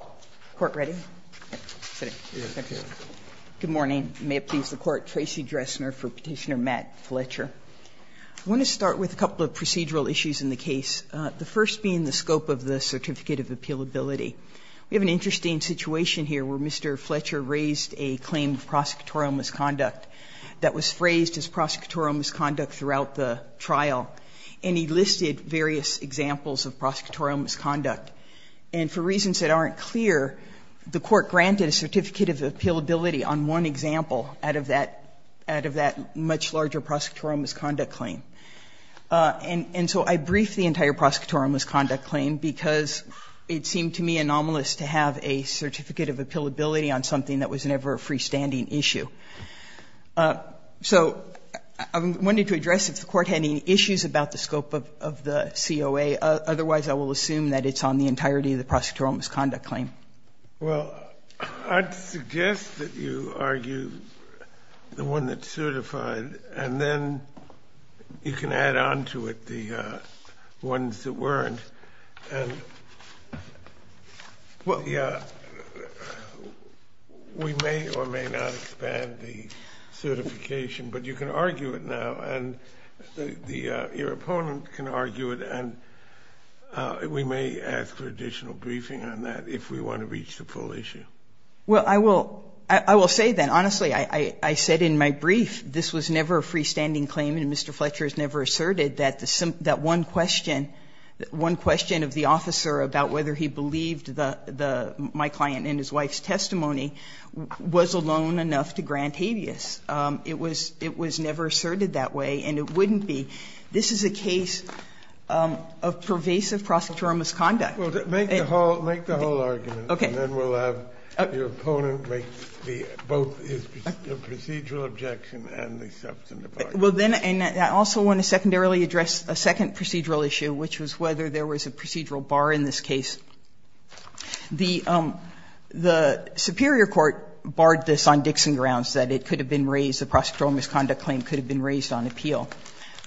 I want to start with a couple of procedural issues in the case, the first being the scope of the Certificate of Appealability. We have an interesting situation here where Mr. Fletcher raised a claim of prosecutorial misconduct that was phrased as prosecutorial misconduct throughout the trial, and he listed various examples of prosecutorial misconduct. And for reasons that aren't clear, the Court granted a Certificate of Appealability on one example out of that much larger prosecutorial misconduct claim. And so I briefed the entire prosecutorial misconduct claim because it seemed to me anomalous to have a Certificate of Appealability on something that was never a freestanding issue. So I wanted to address if the Court had any issues about the scope of the COA. Otherwise, I will assume that it's on the entirety of the prosecutorial misconduct claim. Well, I'd suggest that you argue the one that's certified, and then you can add on to it the ones that weren't. We may or may not expand the certification, but you can argue it now, and your opponent can argue it, and we may ask for additional briefing on that if we want to reach the full issue. Well, I will say then, honestly, I said in my brief, this was never a freestanding claim, and Mr. Fletcher has never asserted that one question, one question of the officer about whether he believed my client in his wife's testimony was alone enough to grant habeas. It was never asserted that way, and it wouldn't be. This is a case of pervasive prosecutorial misconduct. Well, make the whole argument, and then we'll have your opponent make both his procedural objection and the substantive argument. Well, then I also want to secondarily address a second procedural issue, which was whether there was a procedural bar in this case. The superior court barred this on Dixon grounds, that it could have been raised, the prosecutorial misconduct claim could have been raised on appeal,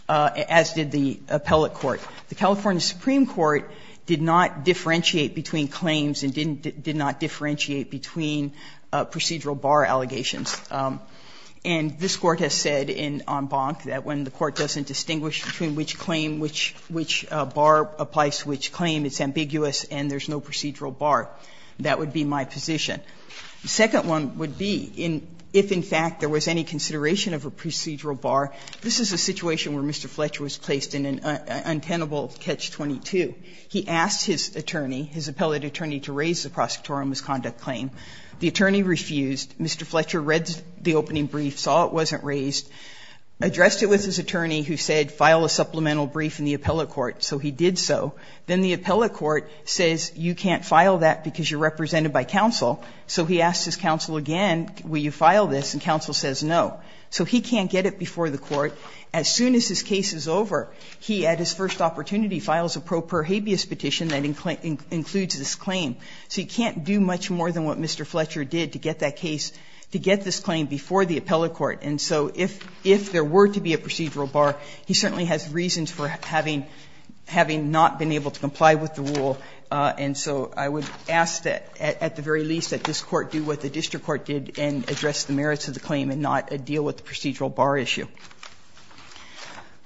as did the appellate court. The California Supreme Court did not differentiate between claims and did not differentiate between procedural bar allegations. And this Court has said on Bonk that when the court doesn't distinguish between which claim which bar applies to which claim, it's ambiguous and there's no procedural bar. That would be my position. The second one would be if, in fact, there was any consideration of a procedural bar. This is a situation where Mr. Fletcher was placed in an untenable catch-22. He asked his attorney, his appellate attorney, to raise the prosecutorial misconduct claim. The attorney refused. Mr. Fletcher read the opening brief, saw it wasn't raised, addressed it with his attorney who said file a supplemental brief in the appellate court, so he did so. Then the appellate court says you can't file that because you're represented by counsel, so he asks his counsel again, will you file this, and counsel says no. So he can't get it before the court. As soon as his case is over, he at his first opportunity files a pro per habeas petition that includes this claim. So you can't do much more than what Mr. Fletcher did to get that case, to get this claim before the appellate court. And so if there were to be a procedural bar, he certainly has reasons for having not been able to comply with the rule. And so I would ask that at the very least that this Court do what the district court did and address the merits of the claim and not deal with the procedural bar issue.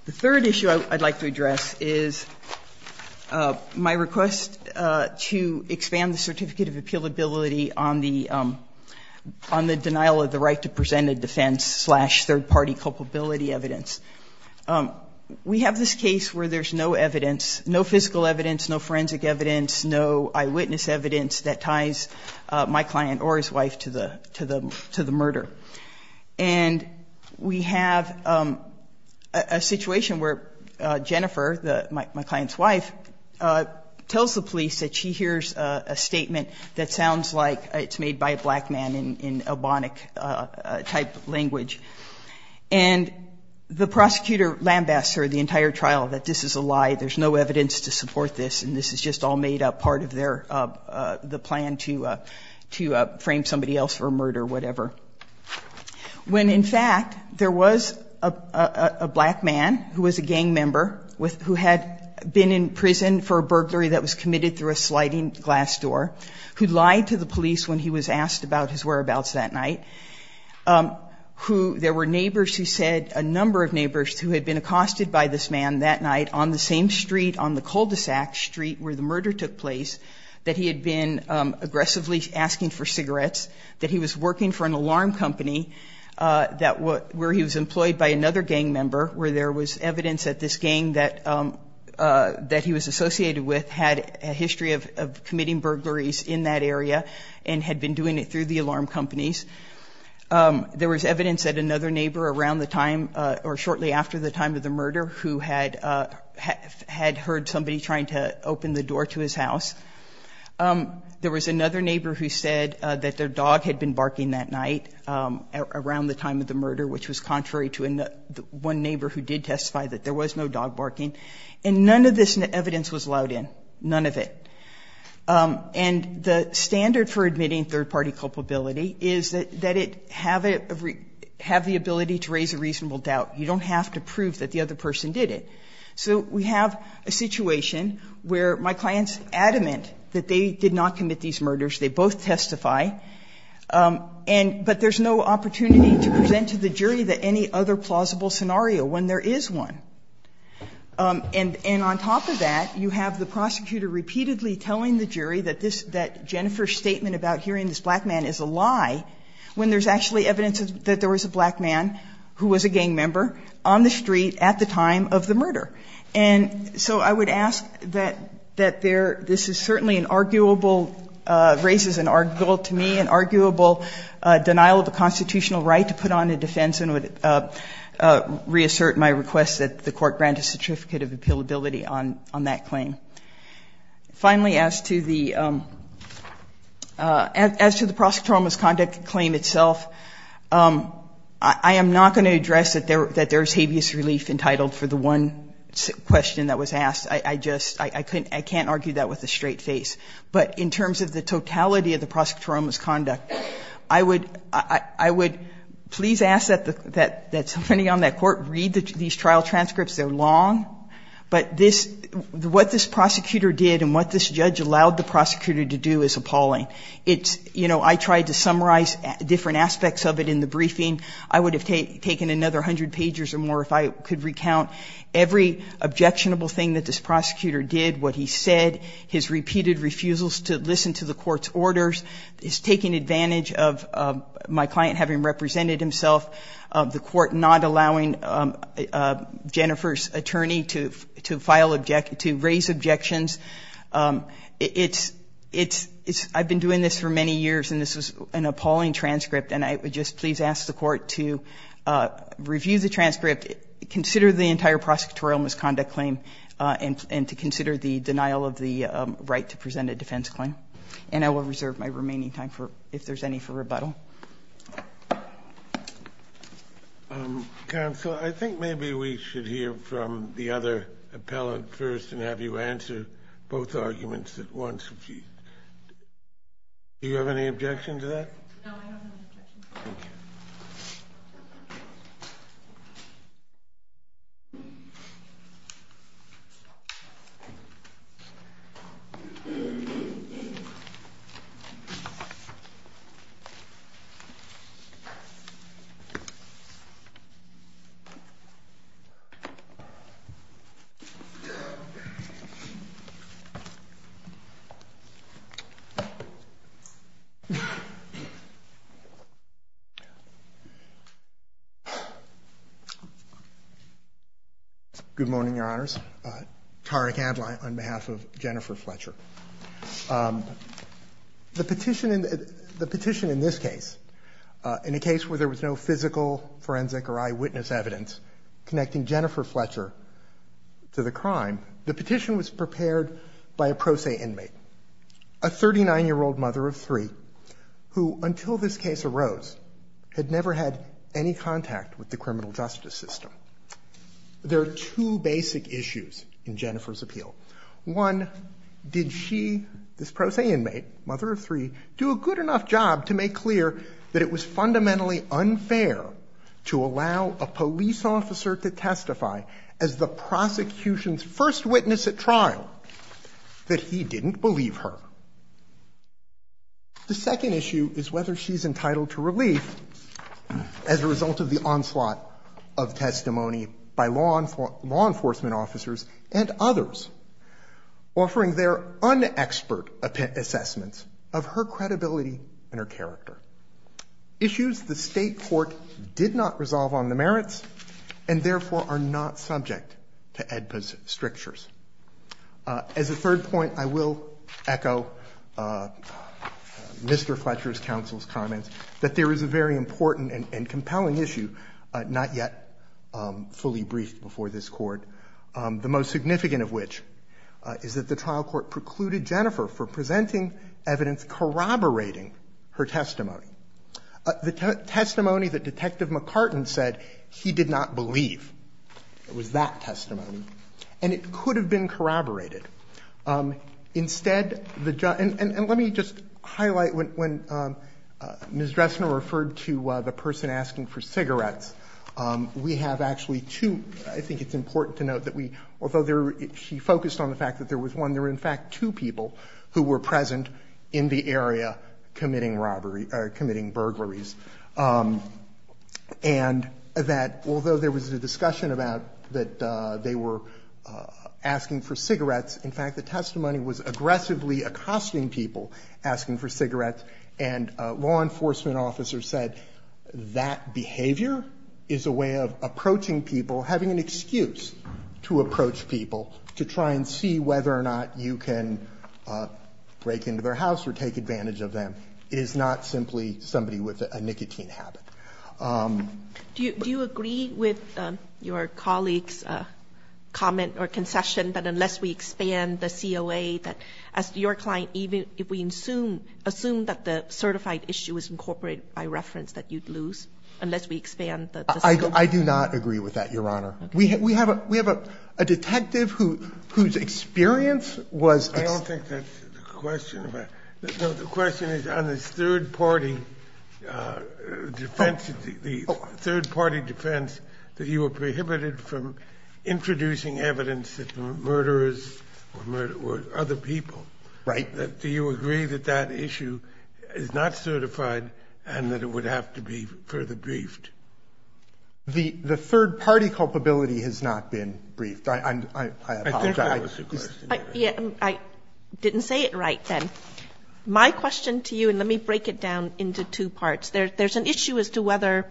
The third issue I'd like to address is my request to expand the certificate of appealability on the denial of the right to present a defense slash third-party culpability evidence. We have this case where there's no evidence, no physical evidence, no forensic evidence, no eyewitness evidence that ties my client or his wife to the murder. And we have a situation where Jennifer, my client's wife, tells the police that she hears a statement that sounds like it's made by a black man in ebonic-type language. And the prosecutor lambasts her the entire trial that this is a lie, there's no evidence, it's just all made up, part of the plan to frame somebody else for murder or whatever. When in fact there was a black man who was a gang member who had been in prison for a burglary that was committed through a sliding glass door, who lied to the police when he was asked about his whereabouts that night, who there were neighbors who said a number of neighbors who had been accosted by this man that night on the same street on the cul-de-sac street where the murder took place, that he had been aggressively asking for cigarettes, that he was working for an alarm company where he was employed by another gang member, where there was evidence that this gang that he was associated with had a history of committing burglaries in that area and had been doing it through the alarm companies. There was evidence that another neighbor around the time or shortly after the time of the murder who had heard somebody trying to open the door to his house, there was another neighbor who said that their dog had been barking that night around the time of the murder, which was contrary to one neighbor who did testify that there was no dog barking, and none of this evidence was allowed in, none of it. And the standard for admitting third-party culpability is that it have the ability to raise a reasonable doubt. You don't have to prove that the other person did it. So we have a situation where my client's adamant that they did not commit these murders, they both testify, but there's no opportunity to present to the jury that any other plausible scenario when there is one. And on top of that, you have the prosecutor repeatedly telling the jury that this – that Jennifer's statement about hearing this black man is a lie when there's actually evidence that there was a black man who was a gang member on the street at the time of the murder. And so I would ask that there – this is certainly an arguable – raises an arguable to me, an arguable denial of a constitutional right to put on a defense and would assert my request that the Court grant a certificate of appealability on that claim. Finally, as to the – as to the prosecutorial misconduct claim itself, I am not going to address that there's habeas relief entitled for the one question that was asked. I just – I can't argue that with a straight face. But in terms of the totality of the prosecutorial misconduct, I would – I would please ask that the – that somebody on that Court read these trial transcripts. They're long. But this – what this prosecutor did and what this judge allowed the prosecutor to do is appalling. It's – you know, I tried to summarize different aspects of it in the briefing. I would have taken another 100 pages or more if I could recount every objectionable thing that this prosecutor did, what he said, his repeated refusals to listen to the defendant, how he presented himself, the Court not allowing Jennifer's attorney to – to file – to raise objections. It's – it's – I've been doing this for many years, and this was an appalling transcript. And I would just please ask the Court to review the transcript, consider the entire prosecutorial misconduct claim, and to consider the denial of the right to present a defense claim. And I will reserve my remaining time for – if there's any – for rebuttal. Counsel, I think maybe we should hear from the other appellant first and have you answer both arguments at once. Do you have any objection to that? No, I don't have any objection. Thank you. Thank you. Good morning, Your Honors. Tariq Adline on behalf of Jennifer Fletcher. The petition in – the petition in this case, in a case where there was no physical forensic or eyewitness evidence connecting Jennifer Fletcher to the crime, the petition was prepared by a pro se inmate, a 39-year-old mother of three who, until this case arose, had never had any contact with the criminal justice system. There are two basic issues in Jennifer's appeal. One, did she, this pro se inmate, mother of three, do a good enough job to make clear that it was fundamentally unfair to allow a police officer to testify as the prosecution's first witness at trial that he didn't believe her? The second issue is whether she's entitled to relief as a result of the onslaught of testimony by law enforcement officers and others, offering their un-expert assessments of her credibility and her character, issues the state court did not resolve on the merits and therefore are not subject to AEDPA's strictures. As a third point, I will echo Mr. Fletcher's counsel's comments that there is a very significant case, not yet fully briefed before this Court, the most significant of which is that the trial court precluded Jennifer for presenting evidence corroborating her testimony, the testimony that Detective McCartan said he did not believe was that testimony, and it could have been corroborated. Instead, and let me just highlight when Ms. Dressner referred to the person asking for cigarettes, we have actually two, I think it's important to note that although she focused on the fact that there was one, there were in fact two people who were present in the area committing burglaries. And that although there was a discussion about that they were asking for cigarettes, in fact, the testimony was aggressively accosting people asking for cigarettes and law enforcement officers said that behavior is a way of approaching people, having an excuse to approach people to try and see whether or not you can break into their house or take advantage of them is not simply somebody with a nicotine habit. Do you agree with your colleague's comment or concession that unless we expand the COA, that as your client, even if we assume that the certified issue is incorporated by reference, that you'd lose, unless we expand the COA? I do not agree with that, Your Honor. We have a detective whose experience was. I don't think that's the question. The question is on this third-party defense, the third-party defense that you were talking about. Do you agree that that issue is not certified and that it would have to be further briefed? The third-party culpability has not been briefed. I apologize. I didn't say it right then. My question to you, and let me break it down into two parts. There's an issue as to whether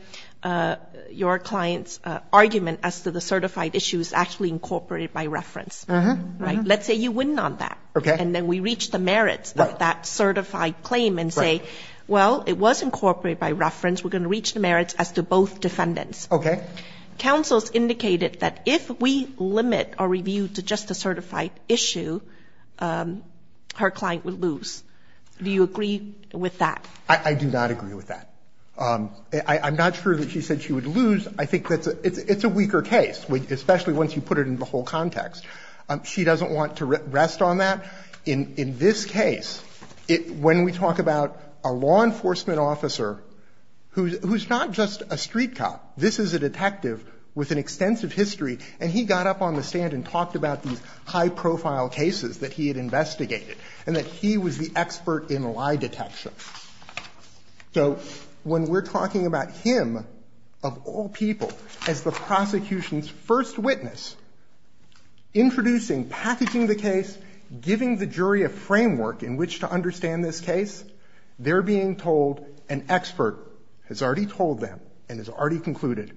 your client's argument as to the certified issue is actually incorporated by reference. Right? Let's say you win on that. Okay. And then we reach the merits of that certified claim and say, well, it was incorporated by reference. We're going to reach the merits as to both defendants. Okay. Counsel's indicated that if we limit our review to just the certified issue, her client would lose. Do you agree with that? I do not agree with that. I'm not sure that she said she would lose. I think it's a weaker case, especially once you put it into the whole context. She doesn't want to rest on that. In this case, when we talk about a law enforcement officer who's not just a street cop, this is a detective with an extensive history, and he got up on the stand and talked about these high-profile cases that he had investigated and that he was the expert in lie detection. So when we're talking about him, of all people, as the prosecution's first witness, introducing, packaging the case, giving the jury a framework in which to understand this case, they're being told an expert has already told them and has already concluded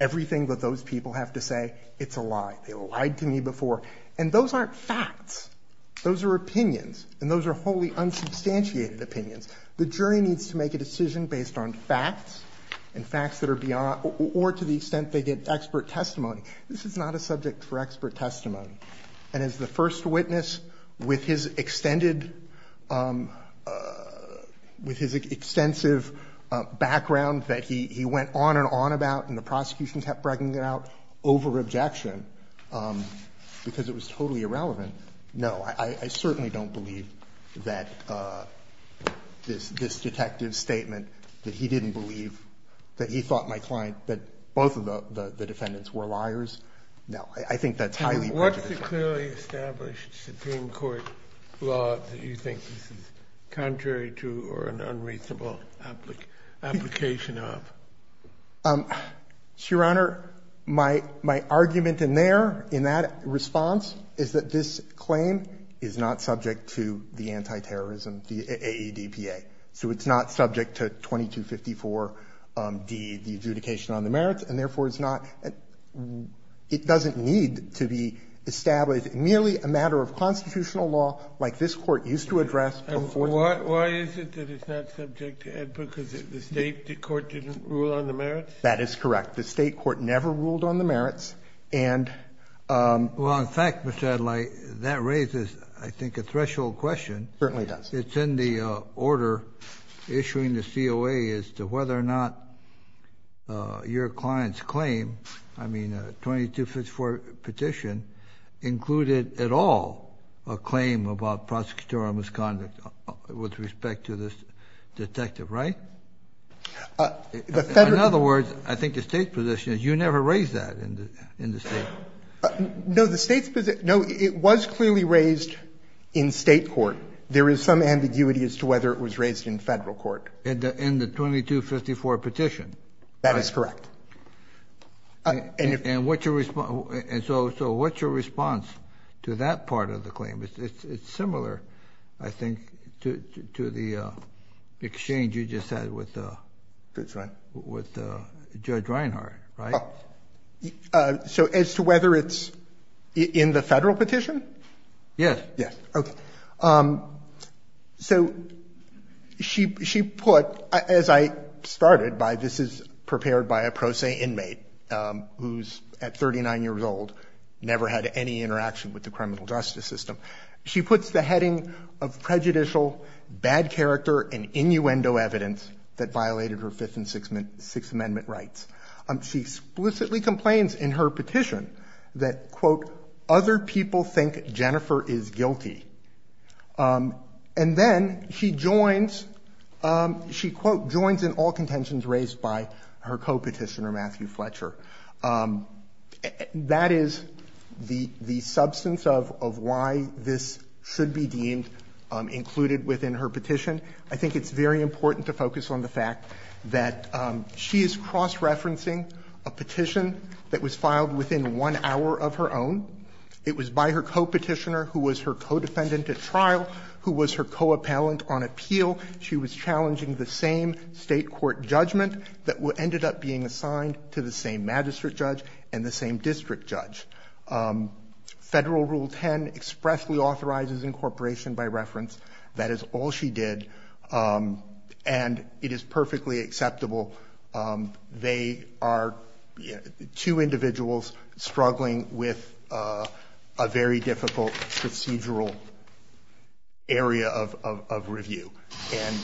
everything that those people have to say, it's a lie. They lied to me before. And those aren't facts. Those are opinions. And those are wholly unsubstantiated opinions. The jury needs to make a decision based on facts and facts that are beyond or to the extent they get expert testimony. This is not a subject for expert testimony. And as the first witness, with his extended, with his extensive background that he went on and on about and the prosecution kept bragging about over objection because it was totally irrelevant. No, I certainly don't believe that this detective's statement that he didn't believe, that he thought my client, that both of the defendants were liars. No, I think that's highly prejudicial. What's the clearly established Supreme Court law that you think is contrary to or an unreasonable application of? Your Honor, my argument in there, in that response, is that this claim is not subject to the anti-terrorism, the AEDPA. So it's not subject to 2254d, the adjudication on the merits, and therefore it's not, it doesn't need to be established. Merely a matter of constitutional law like this Court used to address before. Why is it that it's not subject to AEDPA? Because the state court didn't rule on the merits? That is correct. The state court never ruled on the merits. Well, in fact, Mr. Adlai, that raises, I think, a threshold question. It certainly does. It's in the order issuing the COA as to whether or not your client's claim, I mean 2254 petition, included at all a claim about prosecutorial misconduct with respect to this detective, right? In other words, I think the state's position is you never raised that in the state. No, the state's position, no, it was clearly raised in state court. There is some ambiguity as to whether it was raised in federal court. In the 2254 petition. That is correct. And so what's your response to that part of the claim? It's similar, I think, to the exchange you just had with Judge Reinhart, right? So as to whether it's in the federal petition? Yes. Yes. Okay. So she put, as I started by, this is prepared by a pro se inmate who's at 39 years old, never had any interaction with the criminal justice system. She puts the heading of prejudicial, bad character, and innuendo evidence that violated her Fifth and Sixth Amendment rights. Other people think Jennifer is guilty. And then she joins in all contentions raised by her co-petitioner, Matthew Fletcher. That is the substance of why this should be deemed included within her petition. I think it's very important to focus on the fact that she is cross-referencing a petition that was filed within one hour of her own. It was by her co-petitioner, who was her co-defendant at trial, who was her co-appellant on appeal. She was challenging the same state court judgment that ended up being assigned to the same magistrate judge and the same district judge. Federal Rule 10 expressly authorizes incorporation by reference. That is all she did. And it is perfectly acceptable. They are two individuals struggling with a very difficult procedural area of review. And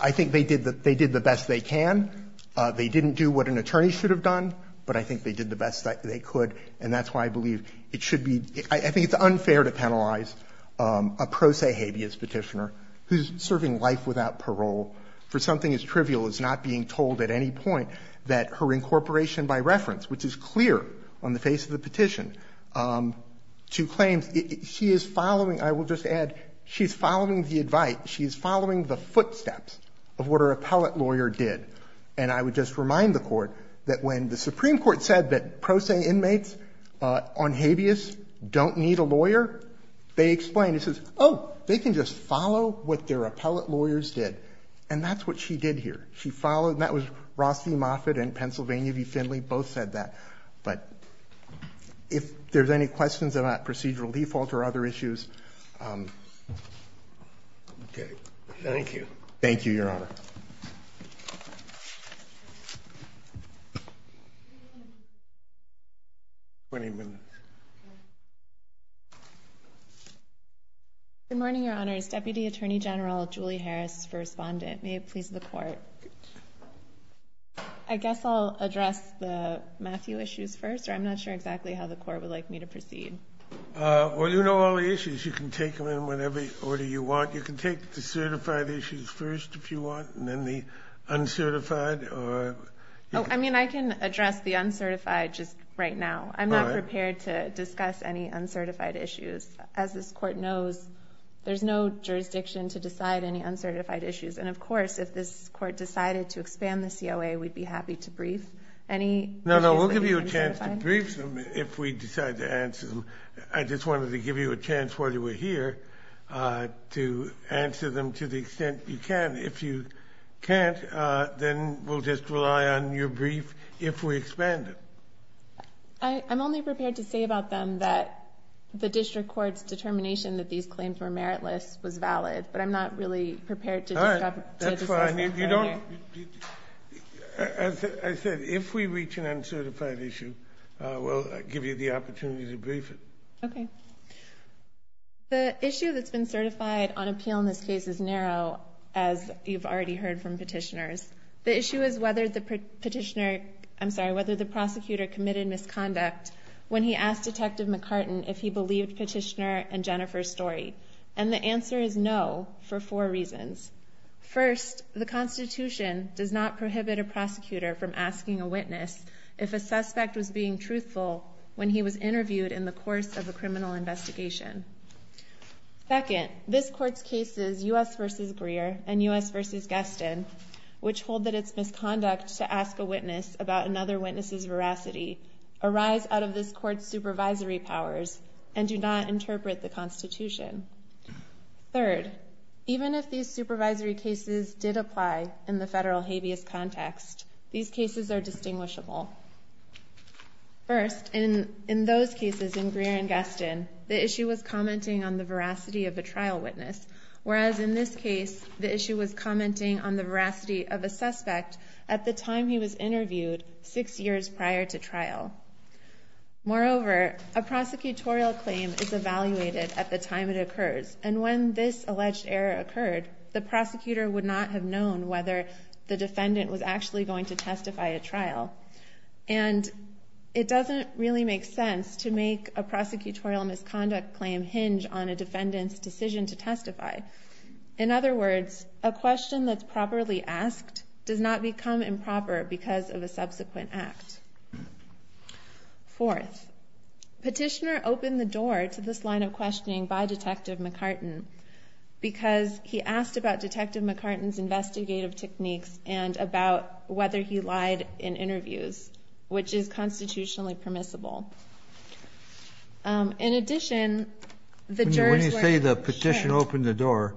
I think they did the best they can. They didn't do what an attorney should have done, but I think they did the best they could, and that's why I believe it should be – I think it's unfair to penalize a pro se habeas petitioner who is serving life without parole for something as trivial as not being told at any point that her incorporation by reference, which is clear on the face of the petition, to claims. She is following – I will just add, she is following the advice. She is following the footsteps of what her appellate lawyer did. And I would just remind the Court that when the Supreme Court said that pro se inmates on habeas don't need a lawyer, they explained. It says, oh, they can just follow what their appellate lawyers did. And that's what she did here. She followed – that was Rossi Moffitt and Pennsylvania v. Finley. Both said that. But if there's any questions about procedural default or other issues – Okay. Thank you. Thank you, Your Honor. 20 minutes. Good morning, Your Honors. Deputy Attorney General Julie Harris for Respondent. May it please the Court. I guess I'll address the Matthew issues first, or I'm not sure exactly how the Court would like me to proceed. Well, you know all the issues. You can take them in whatever order you want. You can take the certified issues first, if you want, and then the uncertified or – Oh, I mean, I can address the uncertified just right now. I'm not prepared to discuss any uncertified issues. As this Court knows, there's no jurisdiction to decide any uncertified issues. And, of course, if this Court decided to expand the COA, we'd be happy to brief any – No, no, we'll give you a chance to brief them if we decide to answer them. I just wanted to give you a chance while you were here to answer them to the extent you can. If you can't, then we'll just rely on your brief if we expand it. I'm only prepared to say about them that the district court's determination that these claims were meritless was valid, but I'm not really prepared to discuss that here. All right. That's why I need – you don't – As I said, if we reach an uncertified issue, we'll give you the opportunity to brief it. Okay. The issue that's been certified on appeal in this case is narrow, as you've already heard from petitioners. The issue is whether the prosecutor committed misconduct when he asked Detective McCartan if he believed Petitioner and Jennifer's story. And the answer is no for four reasons. First, the Constitution does not prohibit a prosecutor from asking a witness if a suspect was being truthful when he was interviewed in the course of a criminal investigation. Second, this Court's cases U.S. v. Greer and U.S. v. Gaston, which hold that it's misconduct to ask a witness about another witness's veracity, arise out of this Court's supervisory powers and do not interpret the Constitution. Third, even if these supervisory cases did apply in the federal habeas context, these cases are distinguishable. First, in those cases in Greer and Gaston, the issue was commenting on the veracity of a trial witness, whereas in this case, the issue was commenting on the veracity of a suspect at the time he was interviewed, six years prior to trial. Moreover, a prosecutorial claim is evaluated at the time it occurs, and when this alleged error occurred, the prosecutor would not have known whether the defendant was actually going to testify at trial. And it doesn't really make sense to make a prosecutorial misconduct claim hinge on a defendant's decision to testify. In other words, a question that's properly asked does not become improper because of a subsequent act. Fourth, Petitioner opened the door to this line of questioning by Detective McCartan because he asked about Detective McCartan's investigative techniques and about whether he lied in interviews, which is constitutionally permissible. In addition, the jurors were... When you say the Petitioner opened the door,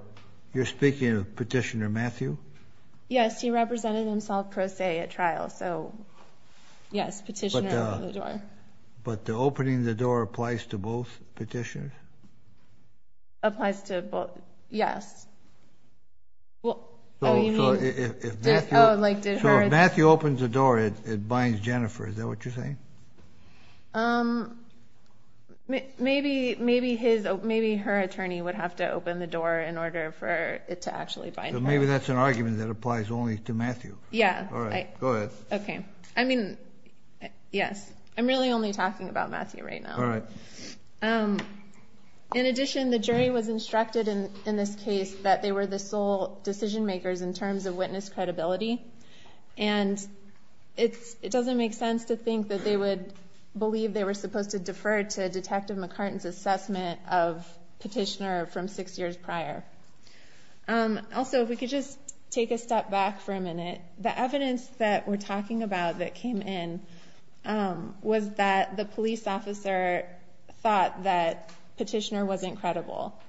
you're speaking of Petitioner Matthew? Yes, he represented himself pro se at trial, so yes, Petitioner opened the door. But the opening the door applies to both Petitioners? Applies to both, yes. So if Matthew opens the door, it binds Jennifer, is that what you're saying? Maybe her attorney would have to open the door in order for it to actually bind her. So maybe that's an argument that applies only to Matthew. Yeah. All right, go ahead. Okay. I mean, yes. I'm really only talking about Matthew right now. All right. In addition, the jury was instructed in this case that they were the sole decision makers in terms of witness credibility, and it doesn't make sense to think that they would believe they were supposed to defer to Detective McCartan's assessment of Petitioner from six years prior. Also, if we could just take a step back for a minute, the evidence that we're talking about that came in was that the police officer thought that Petitioner wasn't credible.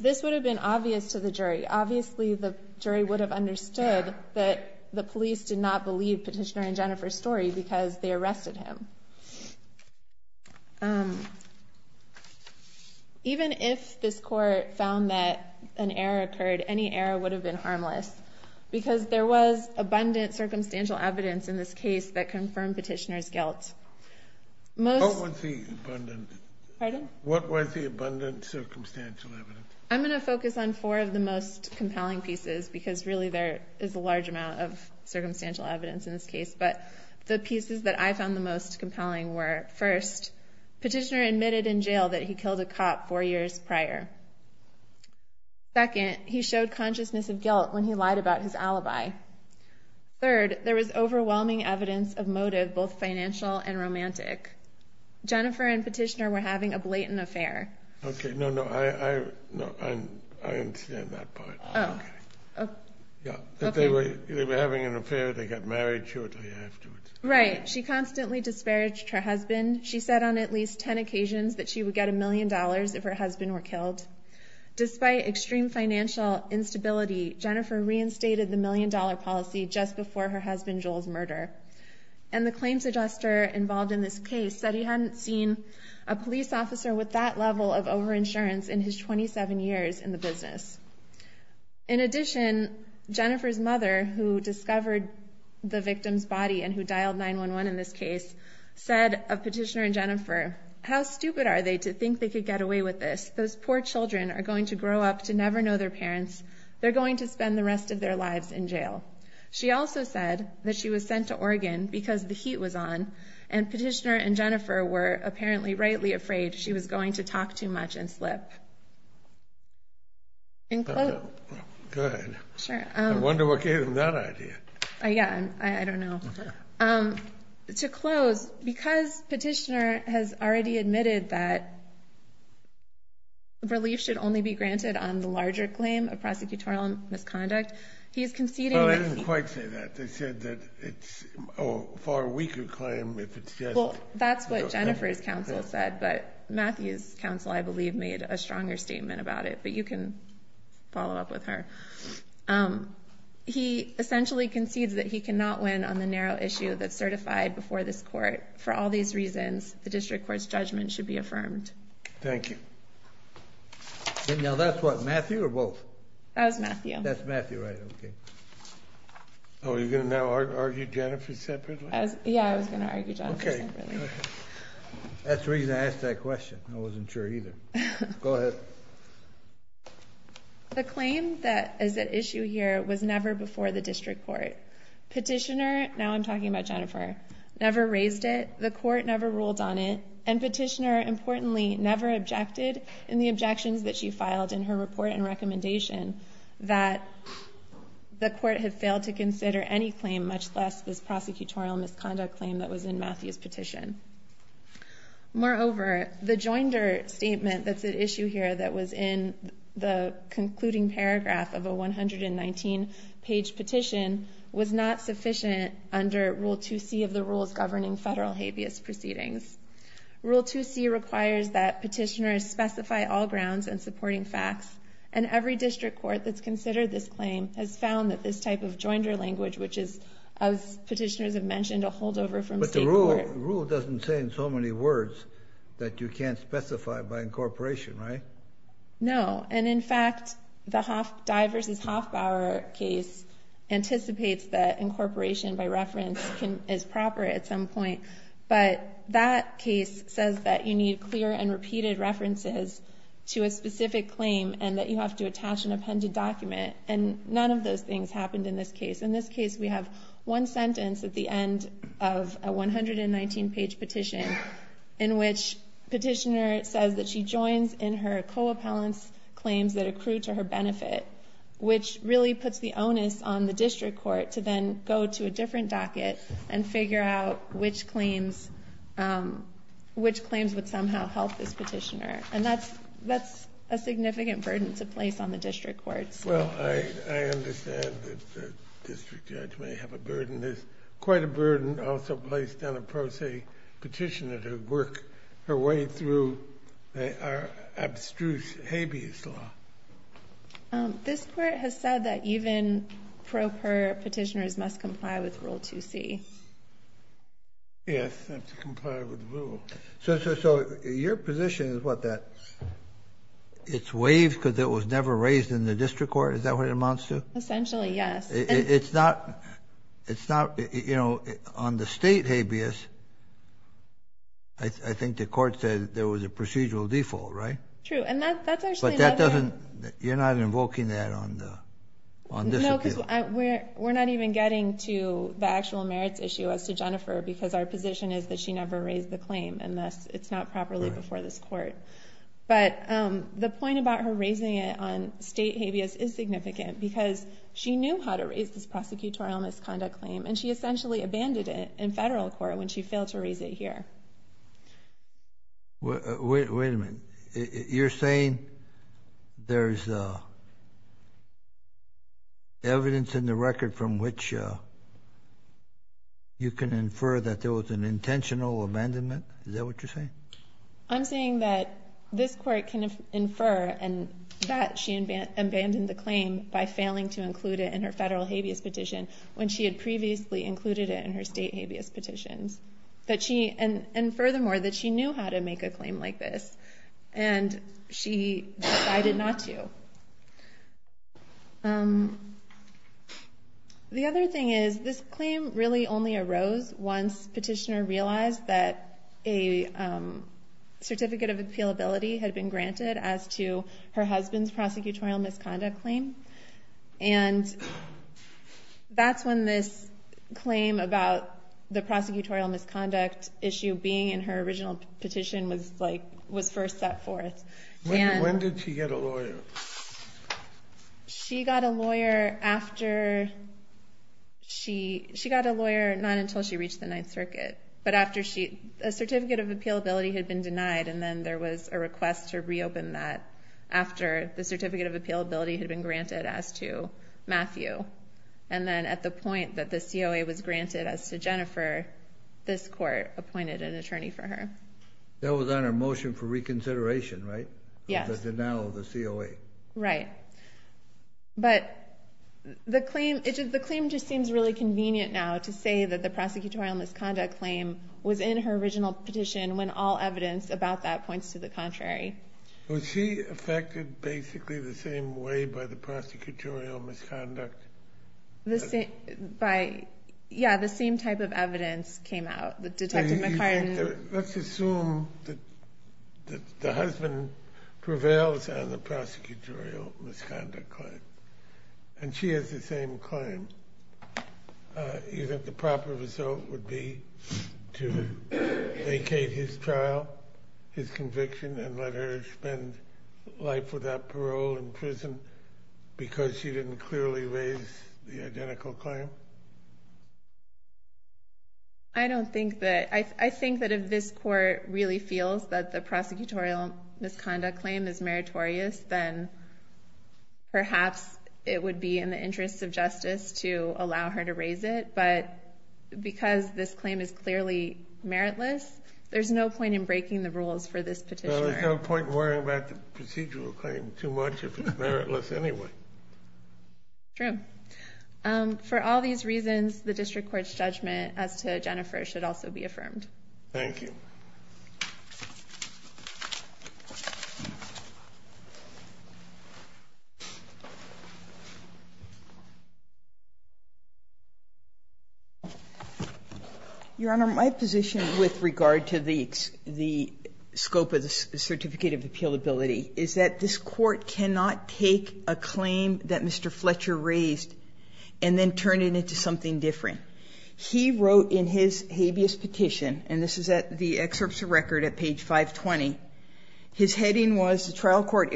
This would have been obvious to the jury. Obviously, the jury would have understood that the police did not believe Petitioner and Jennifer's story because they arrested him. Even if this court found that an error occurred, any error would have been harmless, because there was abundant circumstantial evidence in this case that confirmed Petitioner's guilt. What was the abundant circumstantial evidence? I'm going to focus on four of the most compelling pieces, because really there is a large amount of circumstantial evidence in this case. But the pieces that I found the most compelling were, first, Petitioner admitted in jail that he killed a cop four years prior. Second, he showed consciousness of guilt when he lied about his alibi. Third, there was overwhelming evidence of motive, both financial and romantic. Jennifer and Petitioner were having a blatant affair. Okay, no, no, I understand that part. Oh, okay. They were having an affair. They got married shortly afterwards. Right. She constantly disparaged her husband. She said on at least ten occasions that she would get a million dollars if her husband were killed. Despite extreme financial instability, Jennifer reinstated the million-dollar policy just before her husband Joel's murder. And the claims adjuster involved in this case said he hadn't seen a police officer with that level of over-insurance in his 27 years in the business. In addition, Jennifer's mother, who discovered the victim's body and who dialed 911 in this case, said of Petitioner and Jennifer, how stupid are they to think they could get away with this? Those poor children are going to grow up to never know their parents. They're going to spend the rest of their lives in jail. She also said that she was sent to Oregon because the heat was on, and Petitioner and Jennifer were apparently rightly afraid she was going to talk too much and slip. Okay, good. I wonder what gave them that idea. Yeah, I don't know. To close, because Petitioner has already admitted that relief should only be granted on the larger claim of prosecutorial misconduct, he is conceding that... Well, I didn't quite say that. They said that it's a far weaker claim if it's just... Well, that's what Jennifer's counsel said, but Matthew's counsel, I believe, made a stronger statement about it. But you can follow up with her. He essentially concedes that he cannot win on the narrow issue that's certified before this court. For all these reasons, the district court's judgment should be affirmed. Thank you. Now, that's what? Matthew or both? That was Matthew. That's Matthew, right. Okay. Oh, you're going to now argue Jennifer separately? Yeah, I was going to argue Jennifer separately. That's the reason I asked that question. I wasn't sure, either. Go ahead. The claim that is at issue here was never before the district court. Petitioner, now I'm talking about Jennifer, never raised it, the court never ruled on it, and Petitioner, importantly, never objected in the objections that she filed in her report and recommendation that the court had failed to consider any claim, much less this prosecutorial misconduct claim that was in Matthew's petition. Moreover, the joinder statement that's at issue here that was in the concluding paragraph of a 119-page petition was not sufficient under Rule 2C of the rules governing federal habeas proceedings. Rule 2C requires that petitioners specify all grounds and supporting facts, and every district court that's considered this claim has found that this type of joinder language, which is, as petitioners have mentioned, a holdover from state court. But the rule doesn't say in so many words that you can't specify by incorporation, right? No, and in fact, the Dye v. Hoffbauer case anticipates that incorporation by reference is proper at some point, but that case says that you need clear and repeated references to a specific claim and that you have to attach an appended document, and none of those things happened in this case. In this case, we have one sentence at the end of a 119-page petition in which Petitioner says that she joins in her co-appellant's claims that accrue to her benefit, which really puts the onus on the district court to then go to a different docket and figure out which claims would somehow help this petitioner. And that's a significant burden to place on the district courts. Well, I understand that the district judge may have a burden. There's quite a burden also placed on a pro se petitioner to work her way through our abstruse habeas law. This court has said that even pro per petitioners must comply with Rule 2c. Yes, they have to comply with the rule. So your position is what, that it's waived because it was never raised in the district court? Is that what it amounts to? Essentially, yes. It's not, you know, on the state habeas, I think the court said there was a procedural default, right? But you're not invoking that on this appeal? No, because we're not even getting to the actual merits issue as to Jennifer because our position is that she never raised the claim and thus it's not properly before this court. But the point about her raising it on state habeas is significant because she knew how to raise this prosecutorial misconduct claim and she essentially abandoned it in federal court when she failed to raise it here. Wait a minute. You're saying there's evidence in the record from which you can infer that there was an intentional abandonment? Is that what you're saying? I'm saying that this court can infer and that she abandoned the claim by failing to include it in her federal habeas petition when she had previously included it in her state habeas petitions. And furthermore, that she knew how to make a claim like this and she decided not to. The other thing is, this claim really only arose once Petitioner realized that a certificate of appealability had been granted as to her husband's prosecutorial misconduct claim. And that's when this claim about the prosecutorial misconduct issue being in her original petition was first set forth. When did she get a lawyer? She got a lawyer not until she reached the Ninth Circuit. But a certificate of appealability had been denied and then there was a request to reopen that after the certificate of appealability had been granted as to Matthew. And then at the point that the COA was granted as to Jennifer, this court appointed an attorney for her. That was on her motion for reconsideration, right? Yes. The denial of the COA. Right. But the claim just seems really convenient now to say that the prosecutorial misconduct claim was in her original petition when all evidence about that points to the contrary. Was she affected basically the same way by the prosecutorial misconduct? Yeah, the same type of evidence came out. Let's assume that the husband prevails on the prosecutorial misconduct claim and she has the same claim. You think the proper result would be to vacate his trial, his conviction, and let her spend life without parole in prison because she didn't clearly raise the identical claim? I think that if this court really feels that the prosecutorial misconduct claim is meritorious, then perhaps it would be in the interest of justice to allow her to raise it. But because this claim is clearly meritless, there's no point in breaking the rules for this petitioner. There's no point worrying about the procedural claim too much if it's meritless anyway. True. For all these reasons, the district court's judgment as to Jennifer should also be affirmed. Thank you. Your Honor, my position with regard to the scope of the Certificate of Appealability is that this court cannot take a claim that Mr. Fletcher raised and then turn it into something different. He wrote in his habeas petition, and this is at the excerpts of record at page 520, his heading was, That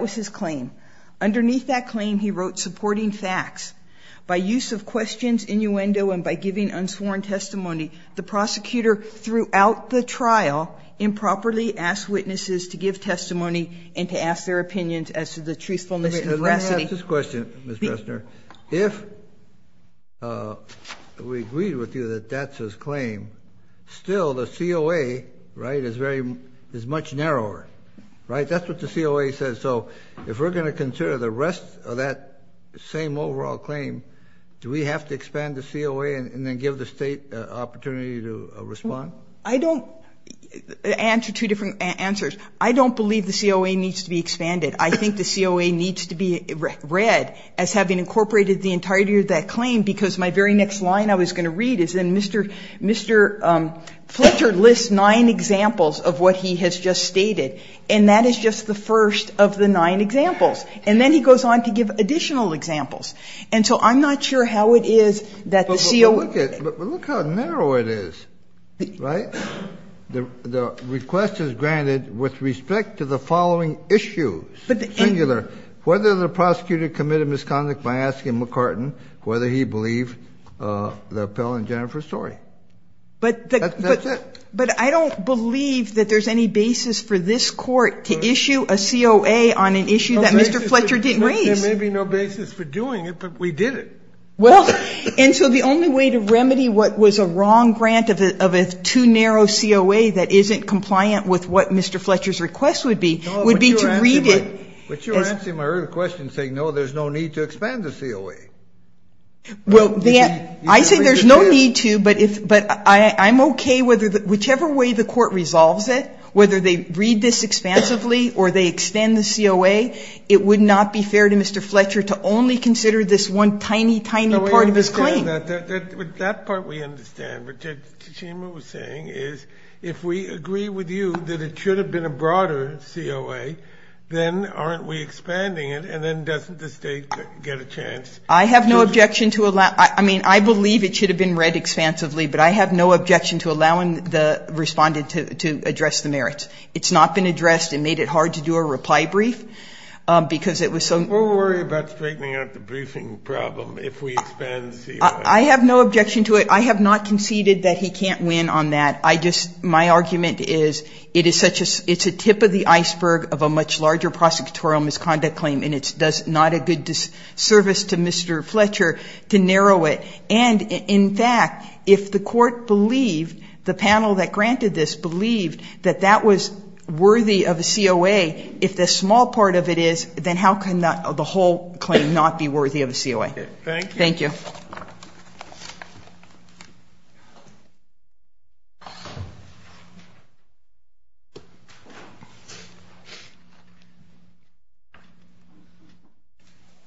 was his claim. Underneath that claim, he wrote, By use of questions, innuendo, and by giving unsworn testimony, the prosecutor throughout the trial improperly asked witnesses to give testimony and to ask their opinions as to the truthfulness and veracity. Let me ask this question, Ms. Pressner. If we agreed with you that that's his claim, still the COA, right, is much narrower, right? That's what the COA says. So if we're going to consider the rest of that same overall claim, do we have to expand the COA and then give the State an opportunity to respond? I don't answer two different answers. I don't believe the COA needs to be expanded. I think the COA needs to be read as having incorporated the entirety of that claim because my very next line I was going to read is in Mr. Fletcher lists nine examples of what he has just stated, and that is just the first of the nine examples. And then he goes on to give additional examples. And so I'm not sure how it is that the COA ---- Kennedy, but look how narrow it is, right? The request is granted with respect to the following issues, singular, whether the prosecutor committed misconduct by asking McCartan whether he believed the appellant Jennifer Story. That's it. But I don't believe that there's any basis for this court to issue a COA on an issue that Mr. Fletcher didn't raise. There may be no basis for doing it, but we did it. Well, and so the only way to remedy what was a wrong grant of a too narrow COA that isn't compliant with what Mr. Fletcher's request would be would be to read it. But you're answering my earlier question saying, no, there's no need to expand the COA. Well, I say there's no need to, but I'm okay whichever way the court resolves it, whether they read this expansively or they extend the COA, it would not be fair to Mr. Fletcher to only consider this one tiny, tiny part of his claim. No, I understand that. With that part we understand. What Judge Tachema was saying is if we agree with you that it should have been a broader COA, then aren't we expanding it? And then doesn't the State get a chance? I have no objection to allow ---- I mean, I believe it should have been read expansively, but I have no objection to allowing the Respondent to address the merits. It's not been addressed and made it hard to do a reply brief because it was so ---- We'll worry about straightening out the briefing problem if we expand the COA. I have no objection to it. I have not conceded that he can't win on that. I just ---- my argument is it is such a ---- it's a tip of the iceberg of a much larger prosecutorial misconduct claim, and it does not a good service to Mr. Fletcher to narrow it. And, in fact, if the Court believed, the panel that granted this believed, that that was worthy of a COA, if the small part of it is, then how can the whole claim not be worthy of a COA? Thank you. Roberts.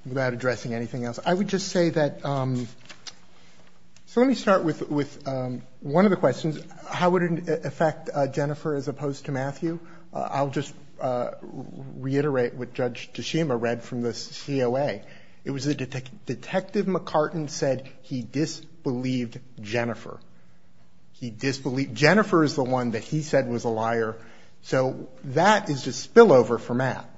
Without addressing anything else, I would just say that ---- so let me start with one of the questions. How would it affect Jennifer as opposed to Matthew? I'll just reiterate what Judge Toshima read from the COA. It was that Detective McCartan said he disbelieved Jennifer. He disbelieved ---- Jennifer is the one that he said was a liar. So that is a spillover for Matt.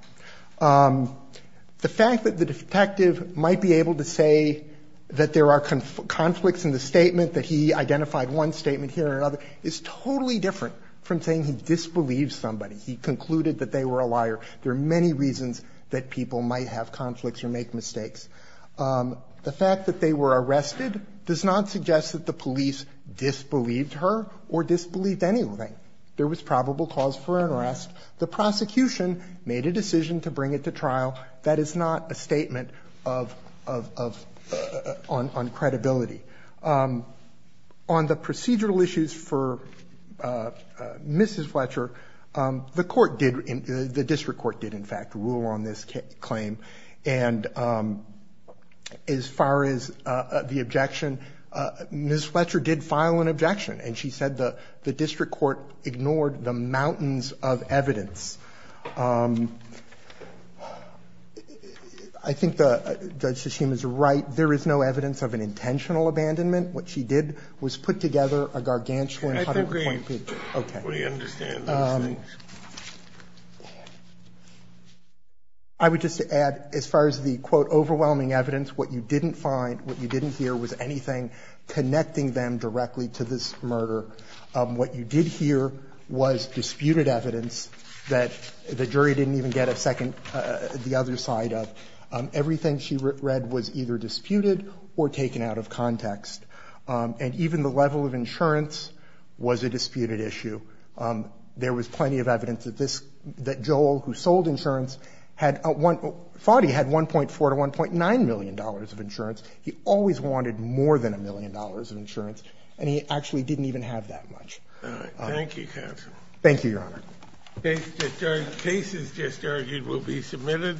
The fact that the detective might be able to say that there are conflicts in the statement, that he identified one statement here and another, is totally different from saying he disbelieves somebody. He concluded that they were a liar. There are many reasons that people might have conflicts or make mistakes. The fact that they were arrested does not suggest that the police disbelieved her or disbelieved anything. There was probable cause for arrest. The prosecution made a decision to bring it to trial. That is not a statement of ---- on credibility. On the procedural issues for Mrs. Fletcher, the Court did ---- the district court did in fact rule on this claim. And as far as the objection, Mrs. Fletcher did file an objection. And she said the district court ignored the mountains of evidence. I think Judge Toshima is right. There is no evidence of an intentional abandonment. What she did was put together a gargantuan ---- I think we understand those things. I would just add, as far as the, quote, overwhelming evidence, what you didn't find, what you didn't hear was anything connecting them directly to this murder. What you did hear was disputed evidence that the jury didn't even get a second ---- the other side of. Everything she read was either disputed or taken out of context. And even the level of insurance was a disputed issue. There was plenty of evidence that this ---- that Joel, who sold insurance, thought he had $1.4 to $1.9 million of insurance. He always wanted more than $1 million of insurance. And he actually didn't even have that much. Thank you, counsel. Thank you, Your Honor. Cases just argued will be submitted.